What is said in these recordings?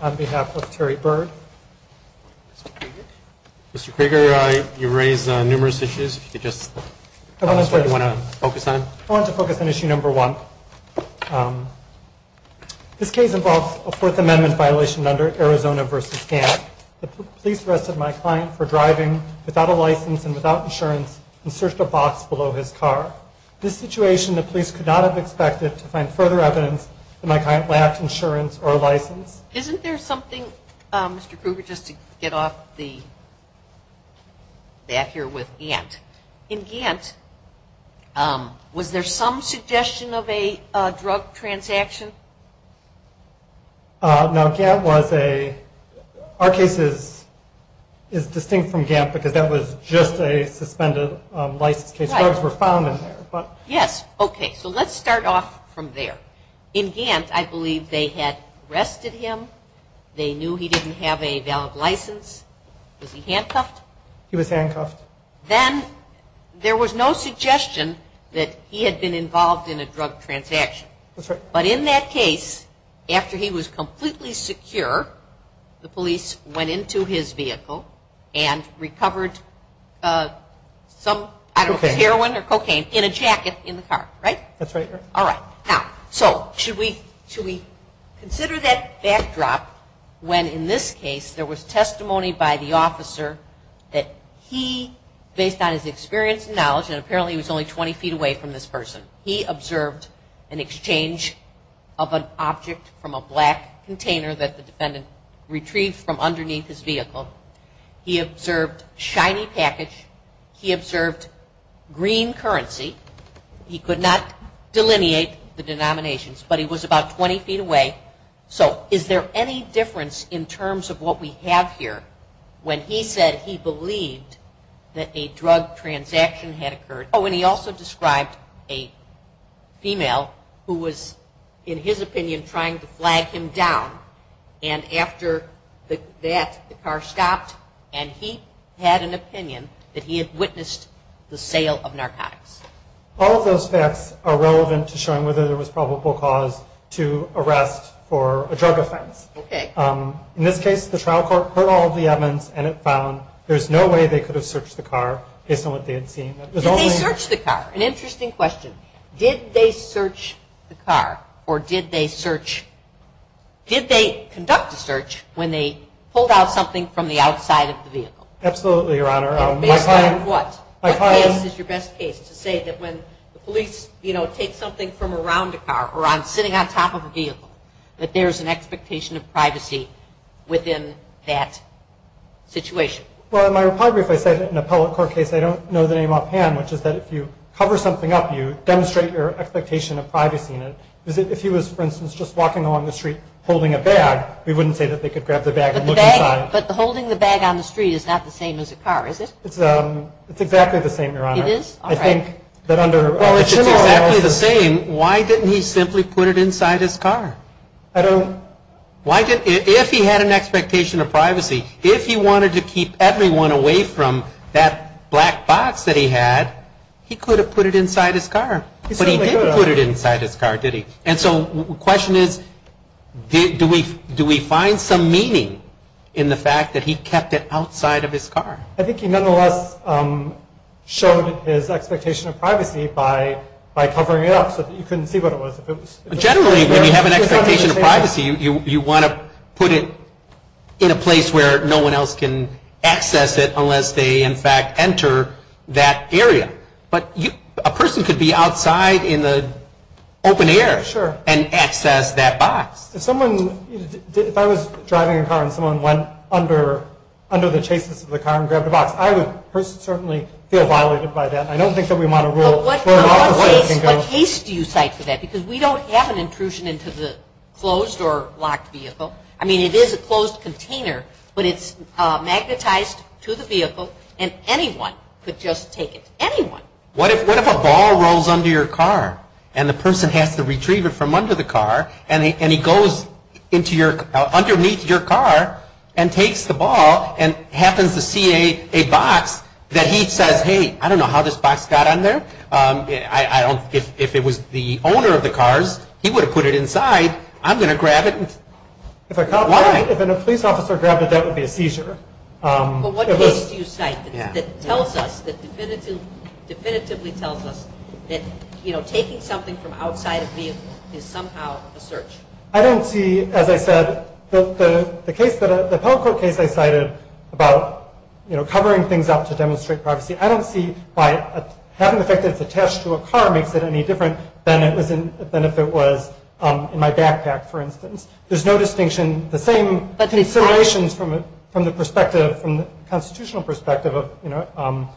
on behalf of Terry Byrd. Mr. Krueger, you raised numerous issues. I want to focus on issue No. 1. This case involves a Fourth Amendment violation under Arizona v. Gantt. The police arrested my client for driving without a license and without insurance and searched a box below his car. This situation the police could not have expected to find further evidence that my client lacked insurance or a license. Isn't there something, Mr. Krueger, just to get off the bat here with Gantt. In Gantt, was there some suggestion of a drug transaction? Now Gantt was a, our case is distinct from Gantt because that was just a suspended license case. Drugs were found in there. Yes, okay, so let's start off from there. In Gantt, I believe they had arrested him. They knew he didn't have a valid license. Was he handcuffed? He was handcuffed. Then there was no suggestion that he had been involved in a drug transaction. That's right. But in that case, after he was completely secure, the police went into his vehicle and recovered some, I don't know, heroin or cocaine in a jacket in the car, right? That's right. All right. Now, so should we consider that backdrop when in this case there was testimony by the officer that he, based on his experience and knowledge, and apparently he was only 20 feet away from this person, he observed an exchange of an container that the defendant retrieved from underneath his vehicle. He observed shiny package. He observed green currency. He could not delineate the denominations, but he was about 20 feet away. So is there any difference in terms of what we have here when he said he believed that a drug transaction had occurred? Oh, and he also described a female who was, in his opinion, trying to get down, and after that, the car stopped, and he had an opinion that he had witnessed the sale of narcotics. All of those facts are relevant to showing whether there was probable cause to arrest for a drug offense. Okay. In this case, the trial court heard all of the evidence, and it found there's no way they could have searched the car based on what they had seen. Did they search the car? An interesting question. Did they search the car, or did they search, did they conduct a search when they pulled out something from the outside of the vehicle? Absolutely, Your Honor. Based on what? What case is your best case to say that when the police, you know, take something from around a car, or on sitting on top of a vehicle, that there's an expectation of privacy within that situation? Well, in my report, if I said an appellate car case, I don't know the name offhand, which is that if you cover something up, you demonstrate your expectation of privacy in it. If he was, for instance, just walking along the street holding a bag, we wouldn't say that they could grab the bag and look inside. But the bag, but the holding the bag on the street is not the same as a car, is it? It's exactly the same, Your Honor. It is? All right. I think that under... Well, if it's exactly the same, why didn't he simply put it inside his car? I don't... Why did, if he had an appellate car, if he had gone away from that black box that he had, he could have put it inside his car. But he didn't put it inside his car, did he? And so the question is, do we find some meaning in the fact that he kept it outside of his car? I think he nonetheless showed his expectation of privacy by covering it up so that you couldn't see what it was. Generally, when you have an expectation of privacy, you want to put it in a place where no one else can access it unless they, in fact, enter that area. But a person could be outside in the open air and access that box. If someone, if I was driving a car and someone went under the chasis of the car and grabbed a box, I would personally certainly feel violated by that. I don't think that we want to rule... What case do you cite for that? Because we don't have an intrusion into the closed or locked vehicle. I mean, it is a closed container, but it's magnetized to the vehicle and anyone could just take it. Anyone. What if a ball rolls under your car and the person has to retrieve it from under the car and he goes underneath your car and takes the ball and happens to see a box that he says, hey, I don't know how this box got on there. If it was the owner of the cars, he would have put it inside. I'm going to grab it. If a cop, if a police officer grabbed it, that would be a seizure. But what case do you cite that tells us, that definitively tells us that taking something from outside a vehicle is somehow a search? I don't see, as I said, the case, the Pell Court case I cited about covering things up to demonstrate privacy. I don't see why having the fact that it's attached to a car makes it any different than if it was in my backpack, for instance. There's no distinction. The same considerations from the perspective, from the constitutional perspective of, you know,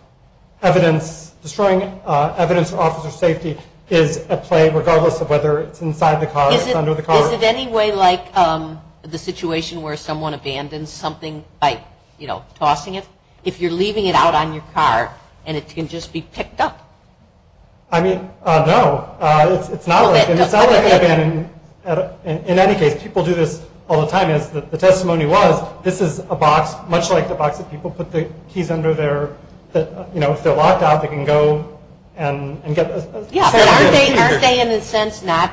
evidence, destroying evidence for officer safety is at play, regardless of whether it's inside the car or under the car. Is it any way like the situation where someone abandons something by, you know, tossing it? If you're leaving it out on your car and it can just be picked up? I mean, no, it's not like, and it's not like abandoning, in any case, people do this all the time, is that the testimony was, this is a box, much like the box that people put the keys under their, that, you know, if they're locked out, they can go and get. Yeah, aren't they, aren't they in a sense, not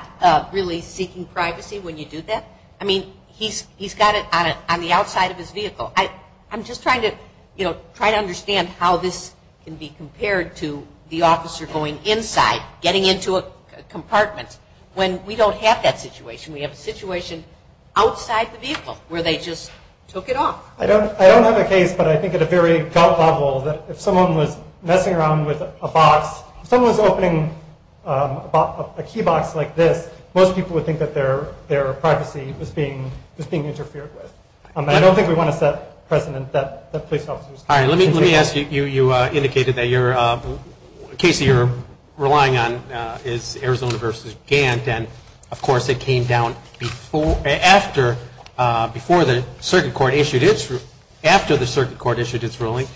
really seeking privacy when you do that? I mean, he's, he's got it on it on the outside of his vehicle. I, I'm just trying to, you know, try to understand how this can be compared to the officer going inside, getting into a compartment when we don't have that situation. We have a situation outside the vehicle where they just took it off. I don't, I don't have a case, but I think at a very gut level that if someone was messing around with a box, someone's opening a key box like this, most people would think that their, their privacy was being, was being interfered with. I don't think we want to set precedent that the police officers. All right. Let me, let me ask you, you, you indicated that your case that you're relying on is Arizona versus Gant. And of course it came down before, after, before the circuit court issued its, after the circuit court issued its ruling.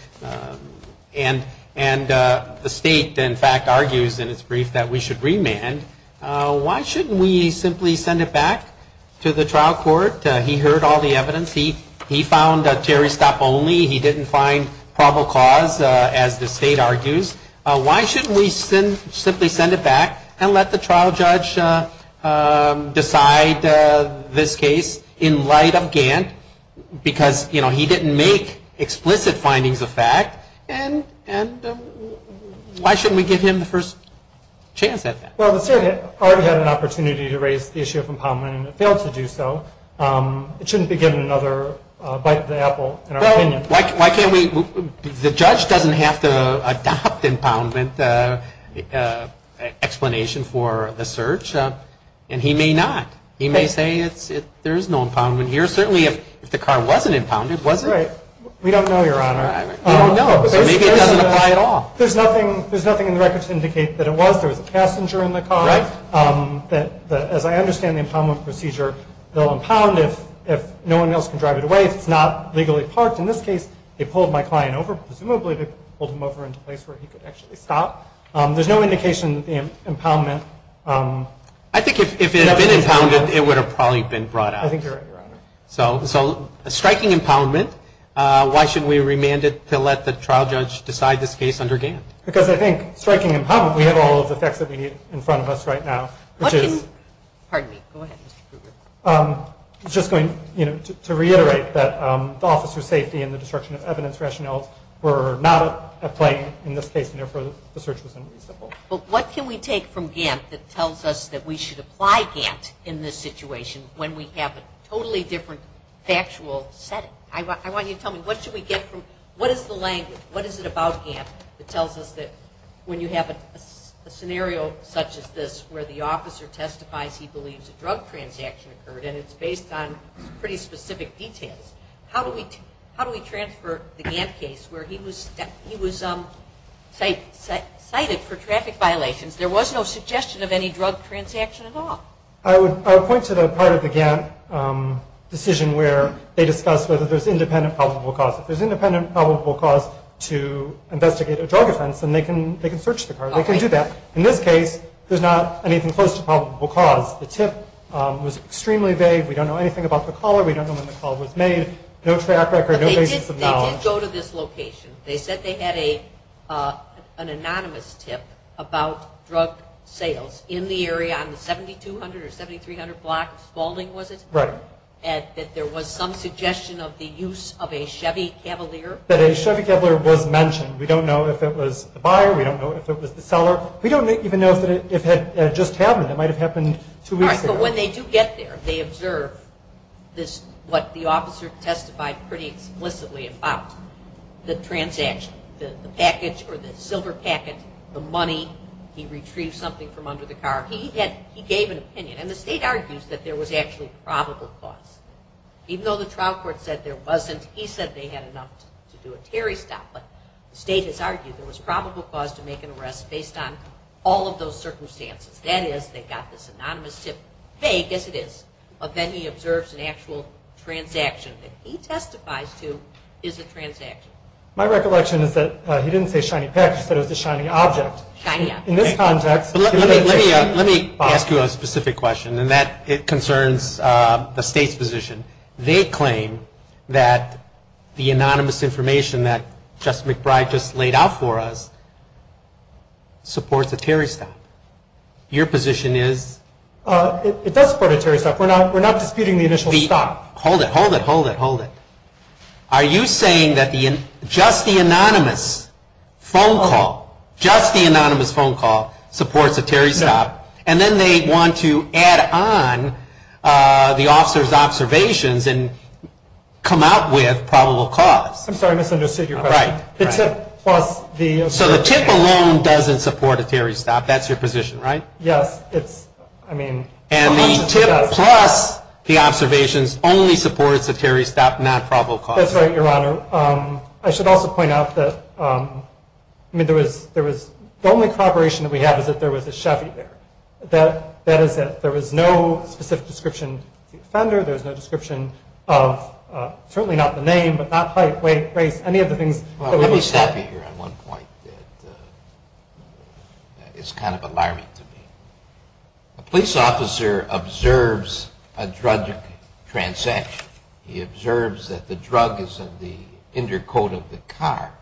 And, and the state, in fact, argues in its brief that we should remand. Why shouldn't we simply send it back to the trial court? He heard all the evidence. He, he found a probable cause as the state argues. Why shouldn't we send, simply send it back and let the trial judge decide this case in light of Gant? Because, you know, he didn't make explicit findings of fact. And, and why shouldn't we give him the first chance at that? Well, the circuit already had an opportunity to raise the issue from Palmland and it failed to do so. It shouldn't be given another bite of the apple, in our opinion. Why can't we, the judge doesn't have to adopt impoundment explanation for the search. And he may not, he may say it's, it, there is no impoundment here. Certainly if the car wasn't impounded, was it? Right. We don't know, Your Honor. I don't know. So maybe it doesn't apply at all. There's nothing, there's nothing in the records to indicate that it was, there was a passenger in the car. That, that, as I understand the impoundment procedure, they'll impound if, if no one else can legally parked. In this case, they pulled my client over, presumably they pulled him over into a place where he could actually stop. There's no indication that the impoundment, I think if it had been impounded, it would have probably been brought out. I think you're right, Your Honor. So, so striking impoundment, why should we remand it to let the trial judge decide this case under Gant? Because I think striking impoundment, we have all of the facts that we need in front of us right now, which is, Pardon me. Go ahead, Mr. Kruger. I'm just going, you know, to, to reiterate that the officer's safety and the destruction of evidence rationales were not applied in this case, and therefore the search was unreasonable. But what can we take from Gant that tells us that we should apply Gant in this situation when we have a totally different factual setting? I want, I want you to tell me, what should we get from, what is the language? What is it about Gant that tells us that when you have a scenario such as this, where the officer testifies he believes a drug transaction occurred, and it's based on pretty specific details, how do we, how do we transfer the Gant case where he was, he was cited for traffic violations? There was no suggestion of any drug transaction at all. I would, I would point to the part of the Gant decision where they discuss whether there's independent probable cause. If there's independent probable cause to investigate a drug offense, then they can, they can search the car. They can do that. In this case, there's not anything close to probable cause. The tip was extremely vague. We don't know anything about the caller. We don't know when the call was made. No track record, no basis of knowledge. But they did go to this location. They said they had a, an anonymous tip about drug sales in the area on the 7200 or 7300 block, Spaulding was it? Right. And that there was some suggestion of the use of a Chevy Cavalier? That a Chevy Cavalier was mentioned. We don't know if it was the buyer. We don't know if it was the seller. We don't even know if it had just happened. It might've happened two weeks ago. But when they do get there, they observe this, what the officer testified pretty explicitly about the transaction, the package or the silver packet, the money, he retrieved something from under the car. He had, he gave an opinion and the state argues that there was actually probable cause. Even though the trial court said there wasn't, he said they had enough to do a Terry stop. But the state has argued there was probable cause to make an all of those circumstances. That is, they've got this anonymous tip, vague as it is. But then he observes an actual transaction that he testifies to is a transaction. My recollection is that he didn't say shiny package, he said it was a shiny object. In this context. Let me ask you a specific question. And that concerns the state's position. They claim that the anonymous information that Justice McBride just laid out for us supports a Terry stop. Your position is? Uh, it does support a Terry stop. We're not, we're not disputing the initial stop. Hold it, hold it, hold it, hold it. Are you saying that the, just the anonymous phone call, just the anonymous phone call supports a Terry stop and then they want to add on, uh, the officer's observations and come out with probable cause. I'm sorry, I misunderstood your question. The tip plus the, so the tip alone doesn't support a Terry stop. That's your position, right? Yes. It's, I mean, and the tip plus the observations only supports a Terry stop, not probable cause. That's right. Your honor. Um, I should also point out that, um, I mean, there was, there was the only cooperation that we have is that there was a Chevy there that, that is that there was no specific description of the offender. There's no description of, uh, certainly not the name, but not height, weight, race, any of the things that would be. Let me stop you here on one point that, uh, it's kind of alarming to me. A police officer observes a drug transaction. He observes that the drug is in the inner coat of the car.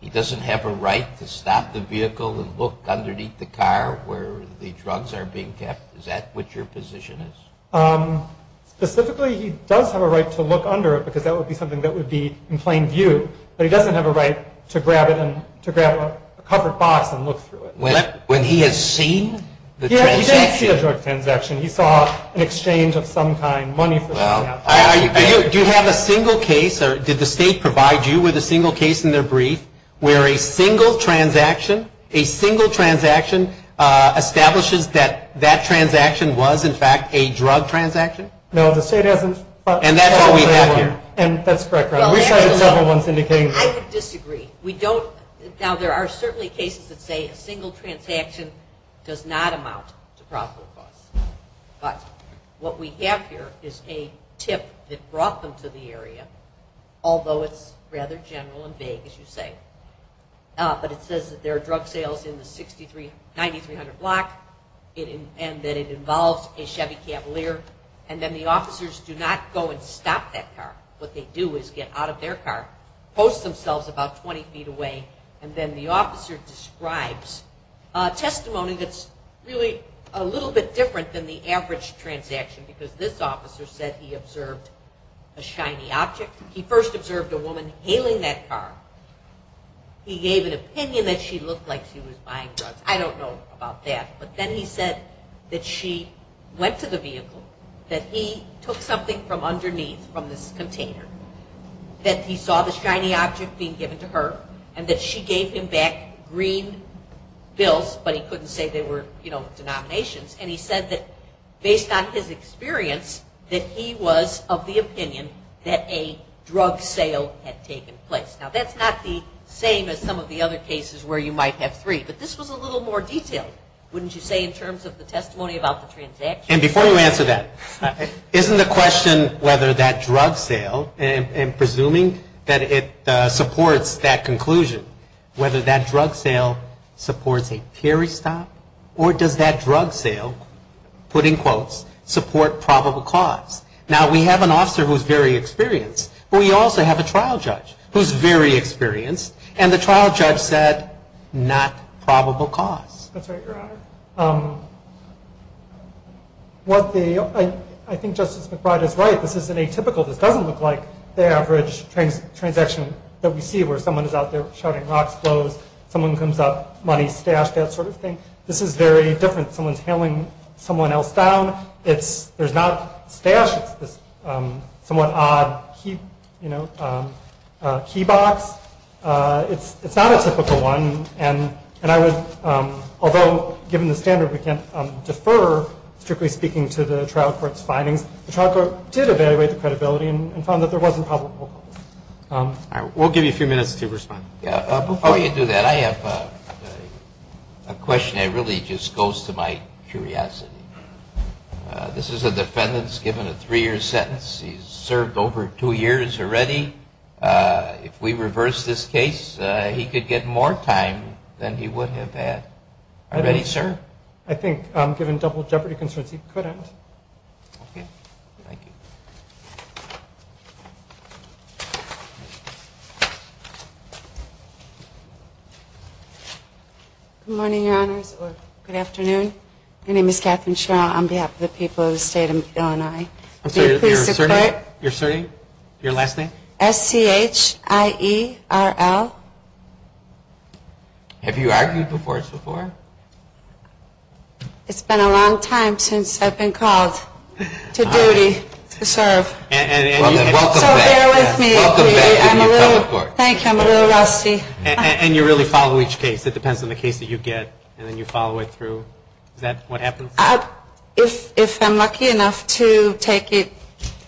He doesn't have a right to stop the vehicle and look underneath the car where the drugs are being kept. Is that what your position is? Um, specifically, he does have a right to look under it because that would be something that would be in plain view, but he doesn't have a right to grab it and to grab a covered box and look through it when he has seen the drug transaction. He saw an exchange of some kind money. Do you have a single case or did the state provide you with a single case in their brief where a single transaction, a single transaction, uh, establishes that that transaction was in fact a drug transaction? No, the state hasn't. And that's what we have here. And that's correct. We cited several ones indicating that. I would disagree. We don't, now there are certainly cases that say a single transaction does not amount to probable cause, but what we have here is a tip that brought them to the area, although it's rather general and vague, as you say, uh, but it says that there are drug sales in the 6,300, 9,300 block and that it involves a car and then the officers do not go and stop that car. What they do is get out of their car, post themselves about 20 feet away. And then the officer describes a testimony that's really a little bit different than the average transaction, because this officer said he observed a shiny object. He first observed a woman hailing that car. He gave an opinion that she looked like she was buying drugs. I don't know about that, but then he said that she went to the vehicle, that he took something from underneath from this container, that he saw the shiny object being given to her and that she gave him back green bills, but he couldn't say they were, you know, denominations. And he said that based on his experience, that he was of the opinion that a drug sale had taken place. Now that's not the same as some of the other cases where you might have three, but this was a little more detailed, wouldn't you say, in terms of the testimony about the transaction? And before you answer that, isn't the question whether that drug sale, and presuming that it supports that conclusion, whether that drug sale supports a period stop, or does that drug sale, put in quotes, support probable cause? Now we have an officer who's very experienced, but we also have a trial judge who's very experienced. And the trial judge said, not probable cause. That's right, Your Honor. What the, I think Justice McBride is right. This isn't atypical. This doesn't look like the average transaction that we see where someone is out there shouting rocks close, someone comes up, money stashed, that sort of thing. This is very different. Someone's hailing someone else down. It's, there's not stash. It's this somewhat odd key, you know, key box. It's not a typical one. And I would, although given the standard, we can't defer, strictly speaking, to the trial court's findings, the trial court did evaluate the credibility and found that there wasn't probable cause. All right. We'll give you a few minutes to respond. Yeah. Before you do that, I have a question that really just goes to my curiosity. This is a defendant that's given a three year sentence. He's served over two years already. If we reverse this case, he could get more time than he would have had already, sir. I think given double jeopardy concerns, he couldn't. Okay. Thank you. Good morning, your honors, or good afternoon. My name is Katherine Schirra on behalf of the people of the state of Illinois. I'm sorry, your last name? S-C-H-I-E-R-L. Have you argued before this before? It's been a long time since I've been called to duty to serve. And you really follow each case. It depends on the case that you get and then you follow it through. Is that what happens? If I'm lucky enough to take it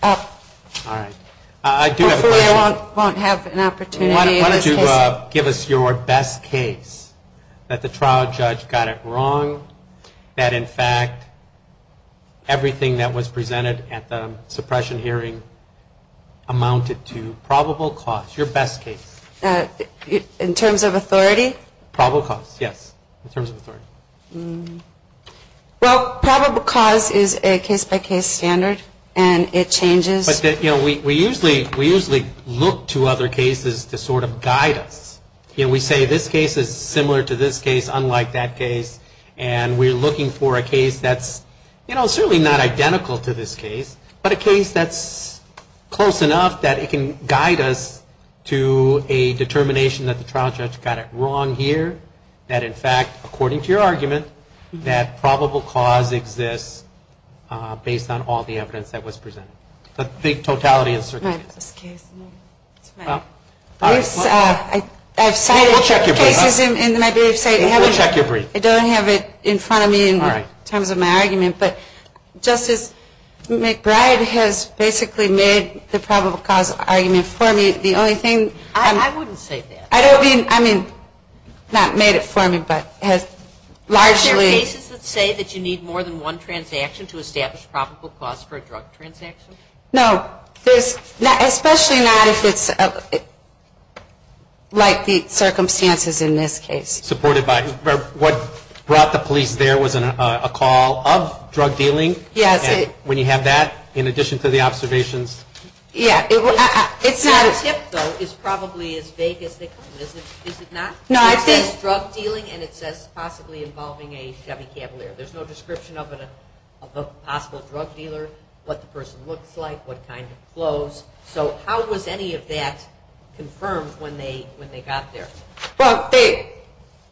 up. All right. Hopefully I won't have an opportunity in this case. Why don't you give us your best case that the trial judge got it wrong. That in fact, everything that was presented at the suppression hearing amounted to probable cause. Your best case. In terms of authority? Probable cause, yes. In terms of authority. Well, probable cause is a case by case standard and it changes. But we usually look to other cases to sort of guide us. We say this case is similar to this case, unlike that case. And we're looking for a case that's certainly not identical to this case. But a case that's close enough that it can guide us to a determination that the trial judge got it wrong here. That in fact, according to your argument, that probable cause exists based on all the evidence that was presented. The big totality of the circumstances. My best case. I've cited cases in my briefs, I don't have it in front of me in terms of my argument. But Justice McBride has basically made the probable cause argument for me. The only thing. I wouldn't say that. I don't mean, I mean, not made it for me, but has largely. Cases that say that you need more than one transaction to establish probable cause for a drug transaction. No, there's not, especially not if it's like the circumstances in this case. Supported by what brought the police there was a call of drug dealing. Yes. When you have that, in addition to the observations. Yeah, it's not a tip, though, is probably as vague as they come. Is it not? No, I think drug dealing and it says possibly involving a Chevy Cavalier. There's no description of a possible drug dealer, what the person looks like, what kind of flows. So how was any of that confirmed when they, when they got there? Well, they,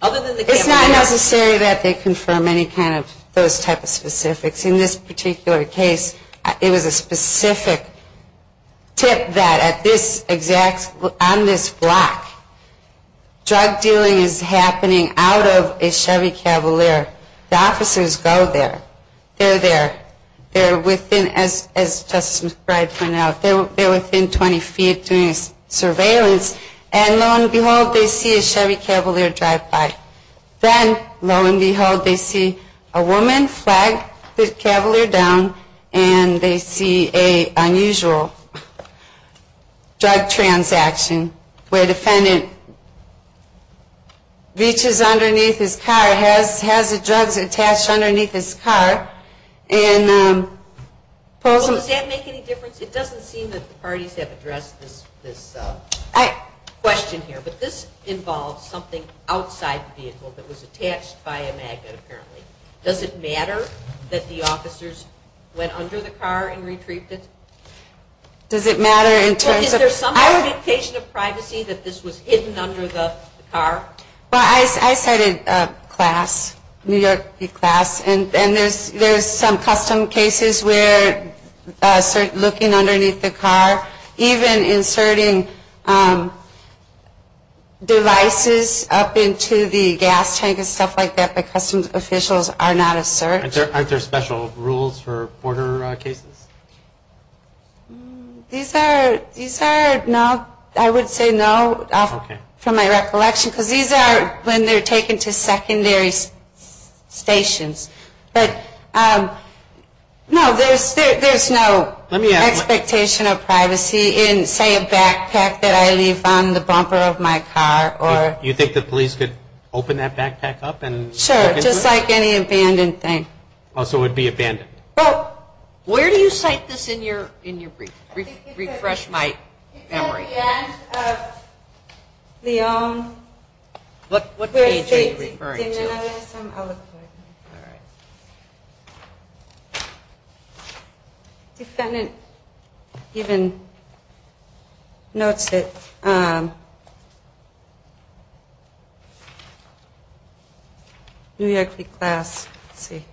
other than the, it's not necessary that they confirm any kind of those type of specifics. In this particular case, it was a specific tip that at this exact on this block. Drug dealing is happening out of a Chevy Cavalier. The officers go there, they're there, they're within, as Justice McBride pointed out, they're within 20 feet doing surveillance. And lo and behold, they see a Chevy Cavalier drive by. Then, lo and behold, they see a woman flag the Cavalier down and they see a unusual drug transaction. Where a defendant reaches underneath his car, has the drugs attached underneath his car and pulls them. Does that make any difference? It doesn't seem that the parties have addressed this question here. But this involves something outside the vehicle that was attached by a magnet, apparently. Does it matter that the officers went under the car and retrieved it? Does it matter in terms of. Is there some indication of privacy that this was hidden under the car? Well, I studied a class, New York class, and there's some custom cases where looking underneath the car, even inserting devices up into the gas tank and stuff like that by customs officials are not asserted. Aren't there special rules for border cases? These are, these are, no, I would say no from my recollection, because these are when they're taken to secondary stations. But, no, there's no expectation of privacy in, say, a backpack that I leave on the bumper of my car or. You think the police could open that backpack up and. Sure, just like any abandoned thing. Oh, so it would be abandoned. Well, where do you cite this in your brief? Refresh my memory. It's at the end of Leon. What page are you referring to? All right. Defendant even notes it. New York class. Let's see.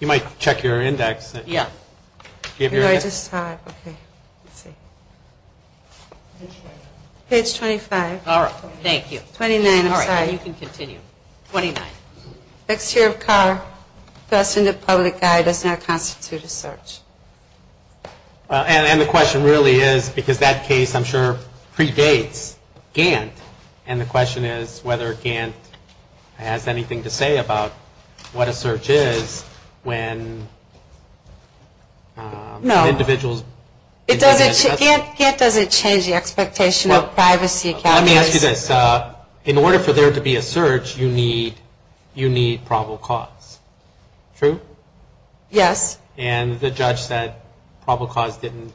You might check your index. Yeah. Page 25. All right, thank you. 29, I'm sorry. You can continue. 29. Exterior of car. Thus in the public eye does not constitute a search. And the question really is, because that case, I'm sure, predates Gantt. And the question is whether Gantt has anything to say about what a search is when. No. Individuals. It doesn't, Gantt doesn't change the expectation of privacy. Let me ask you this. In order for there to be a search, you need probable cause. True? Yes. And the judge said probable cause didn't,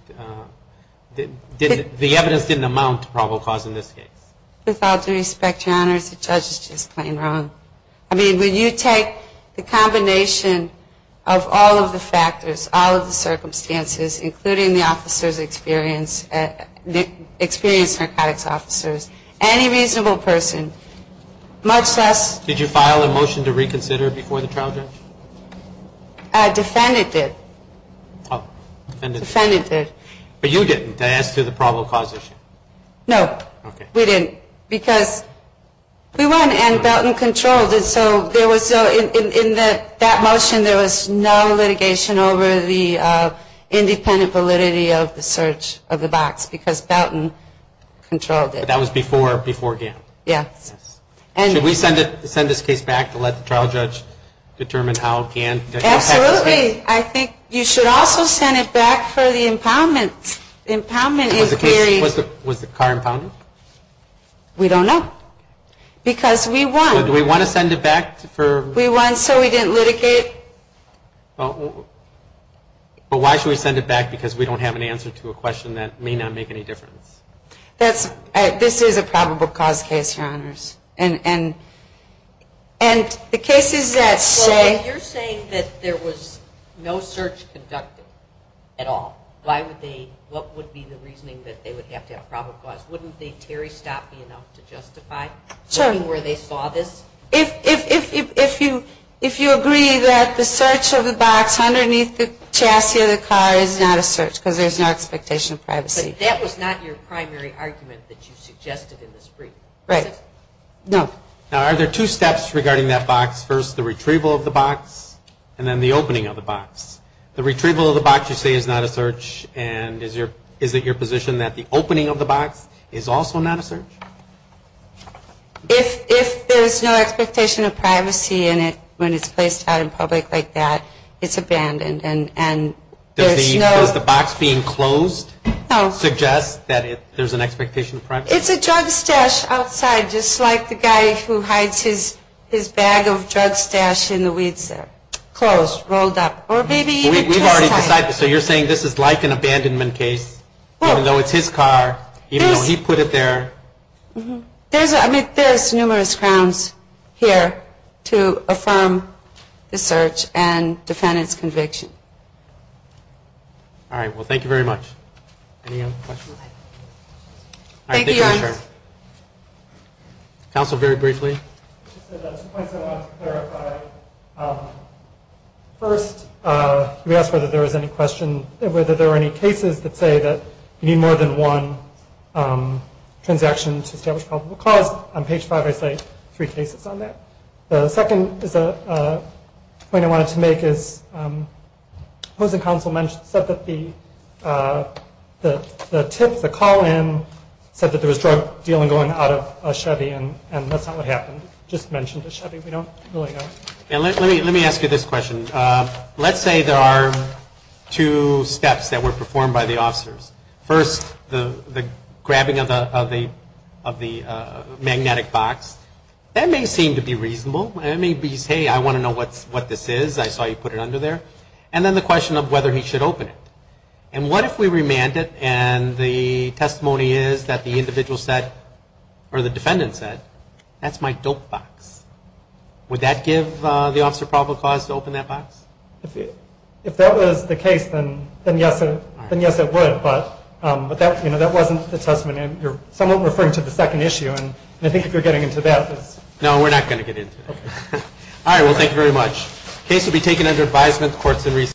the evidence didn't amount to probable cause in this case. With all due respect, Your Honors, the judge is just plain wrong. I mean, when you take the combination of all of the factors, all of the circumstances, including the officers' experience, the experienced narcotics officers, any reasonable person, much less. Did you file a motion to reconsider before the trial judge? Defendant did. Defendant did. Defendant did. But you didn't, as to the probable cause issue. No. Okay. We didn't. Because we went and felt in control. And so there was, in that motion, there was no litigation over the independent validity of the search of the box because Belton controlled it. That was before Gantt. Yes. Should we send this case back to let the trial judge determine how Gantt. Absolutely. I think you should also send it back for the impoundment. Impoundment is very. Was the car impounded? We don't know. Because we want. Do we want to send it back for. We want. So we didn't litigate. But why should we send it back because we don't have an answer to a question that may not make any difference. This is a probable cause case, Your Honors. And the cases that say. You're saying that there was no search conducted at all. Why would they. What would be the reasoning that they would have to have probable cause. Wouldn't the Terry stop me enough to justify. Sure. Where they saw this. If you agree that the search of the box underneath the chassis of the car is not a search because there's no expectation of privacy. That was not your primary argument that you suggested in this brief. Right. No. Now are there two steps regarding that box. First the retrieval of the box. And then the opening of the box. The retrieval of the box you say is not a search. And is it your position that the opening of the box is also not a search. If there's no expectation of privacy in it when it's placed out in public like that, it's abandoned. And there's no. Does the box being closed. No. Suggest that there's an expectation of privacy. It's a drug stash outside. Just like the guy who hides his bag of drug stash in the weeds there. Closed. Rolled up. Or maybe. We've already decided. So you're saying this is like an abandonment case. Even though it's his car. Even though he put it there. There's numerous grounds here to affirm the search and defend its conviction. All right. Well, thank you very much. Any other questions? Thank you, Your Honor. Counsel, very briefly. Two points I wanted to clarify. First, you asked whether there was any question. Whether there were any cases that say that you need more than one transaction to establish probable cause. On page five I say three cases on that. The second point I wanted to make is the tip, the call in, said that there was drug dealing going out of a Chevy. And that's not what happened. It just mentioned a Chevy. We don't really know. Let me ask you this question. Let's say there are two steps that were performed by the officers. First, the grabbing of the magnetic box. That may seem to be reasonable. It may be, hey, I want to know what this is. I saw you put it under there. And then the question of whether he should open it. And what if we remand it and the testimony is that the individual said or the defendant said, that's my dope box. Would that give the officer probable cause to open that box? If that was the case, then yes, it would. But that wasn't the testimony. You're somewhat referring to the second issue. And I think if you're getting into that. No, we're not going to get into that. All right. Well, thank you very much. The case will be taken under advisement of the Courts of Appeal.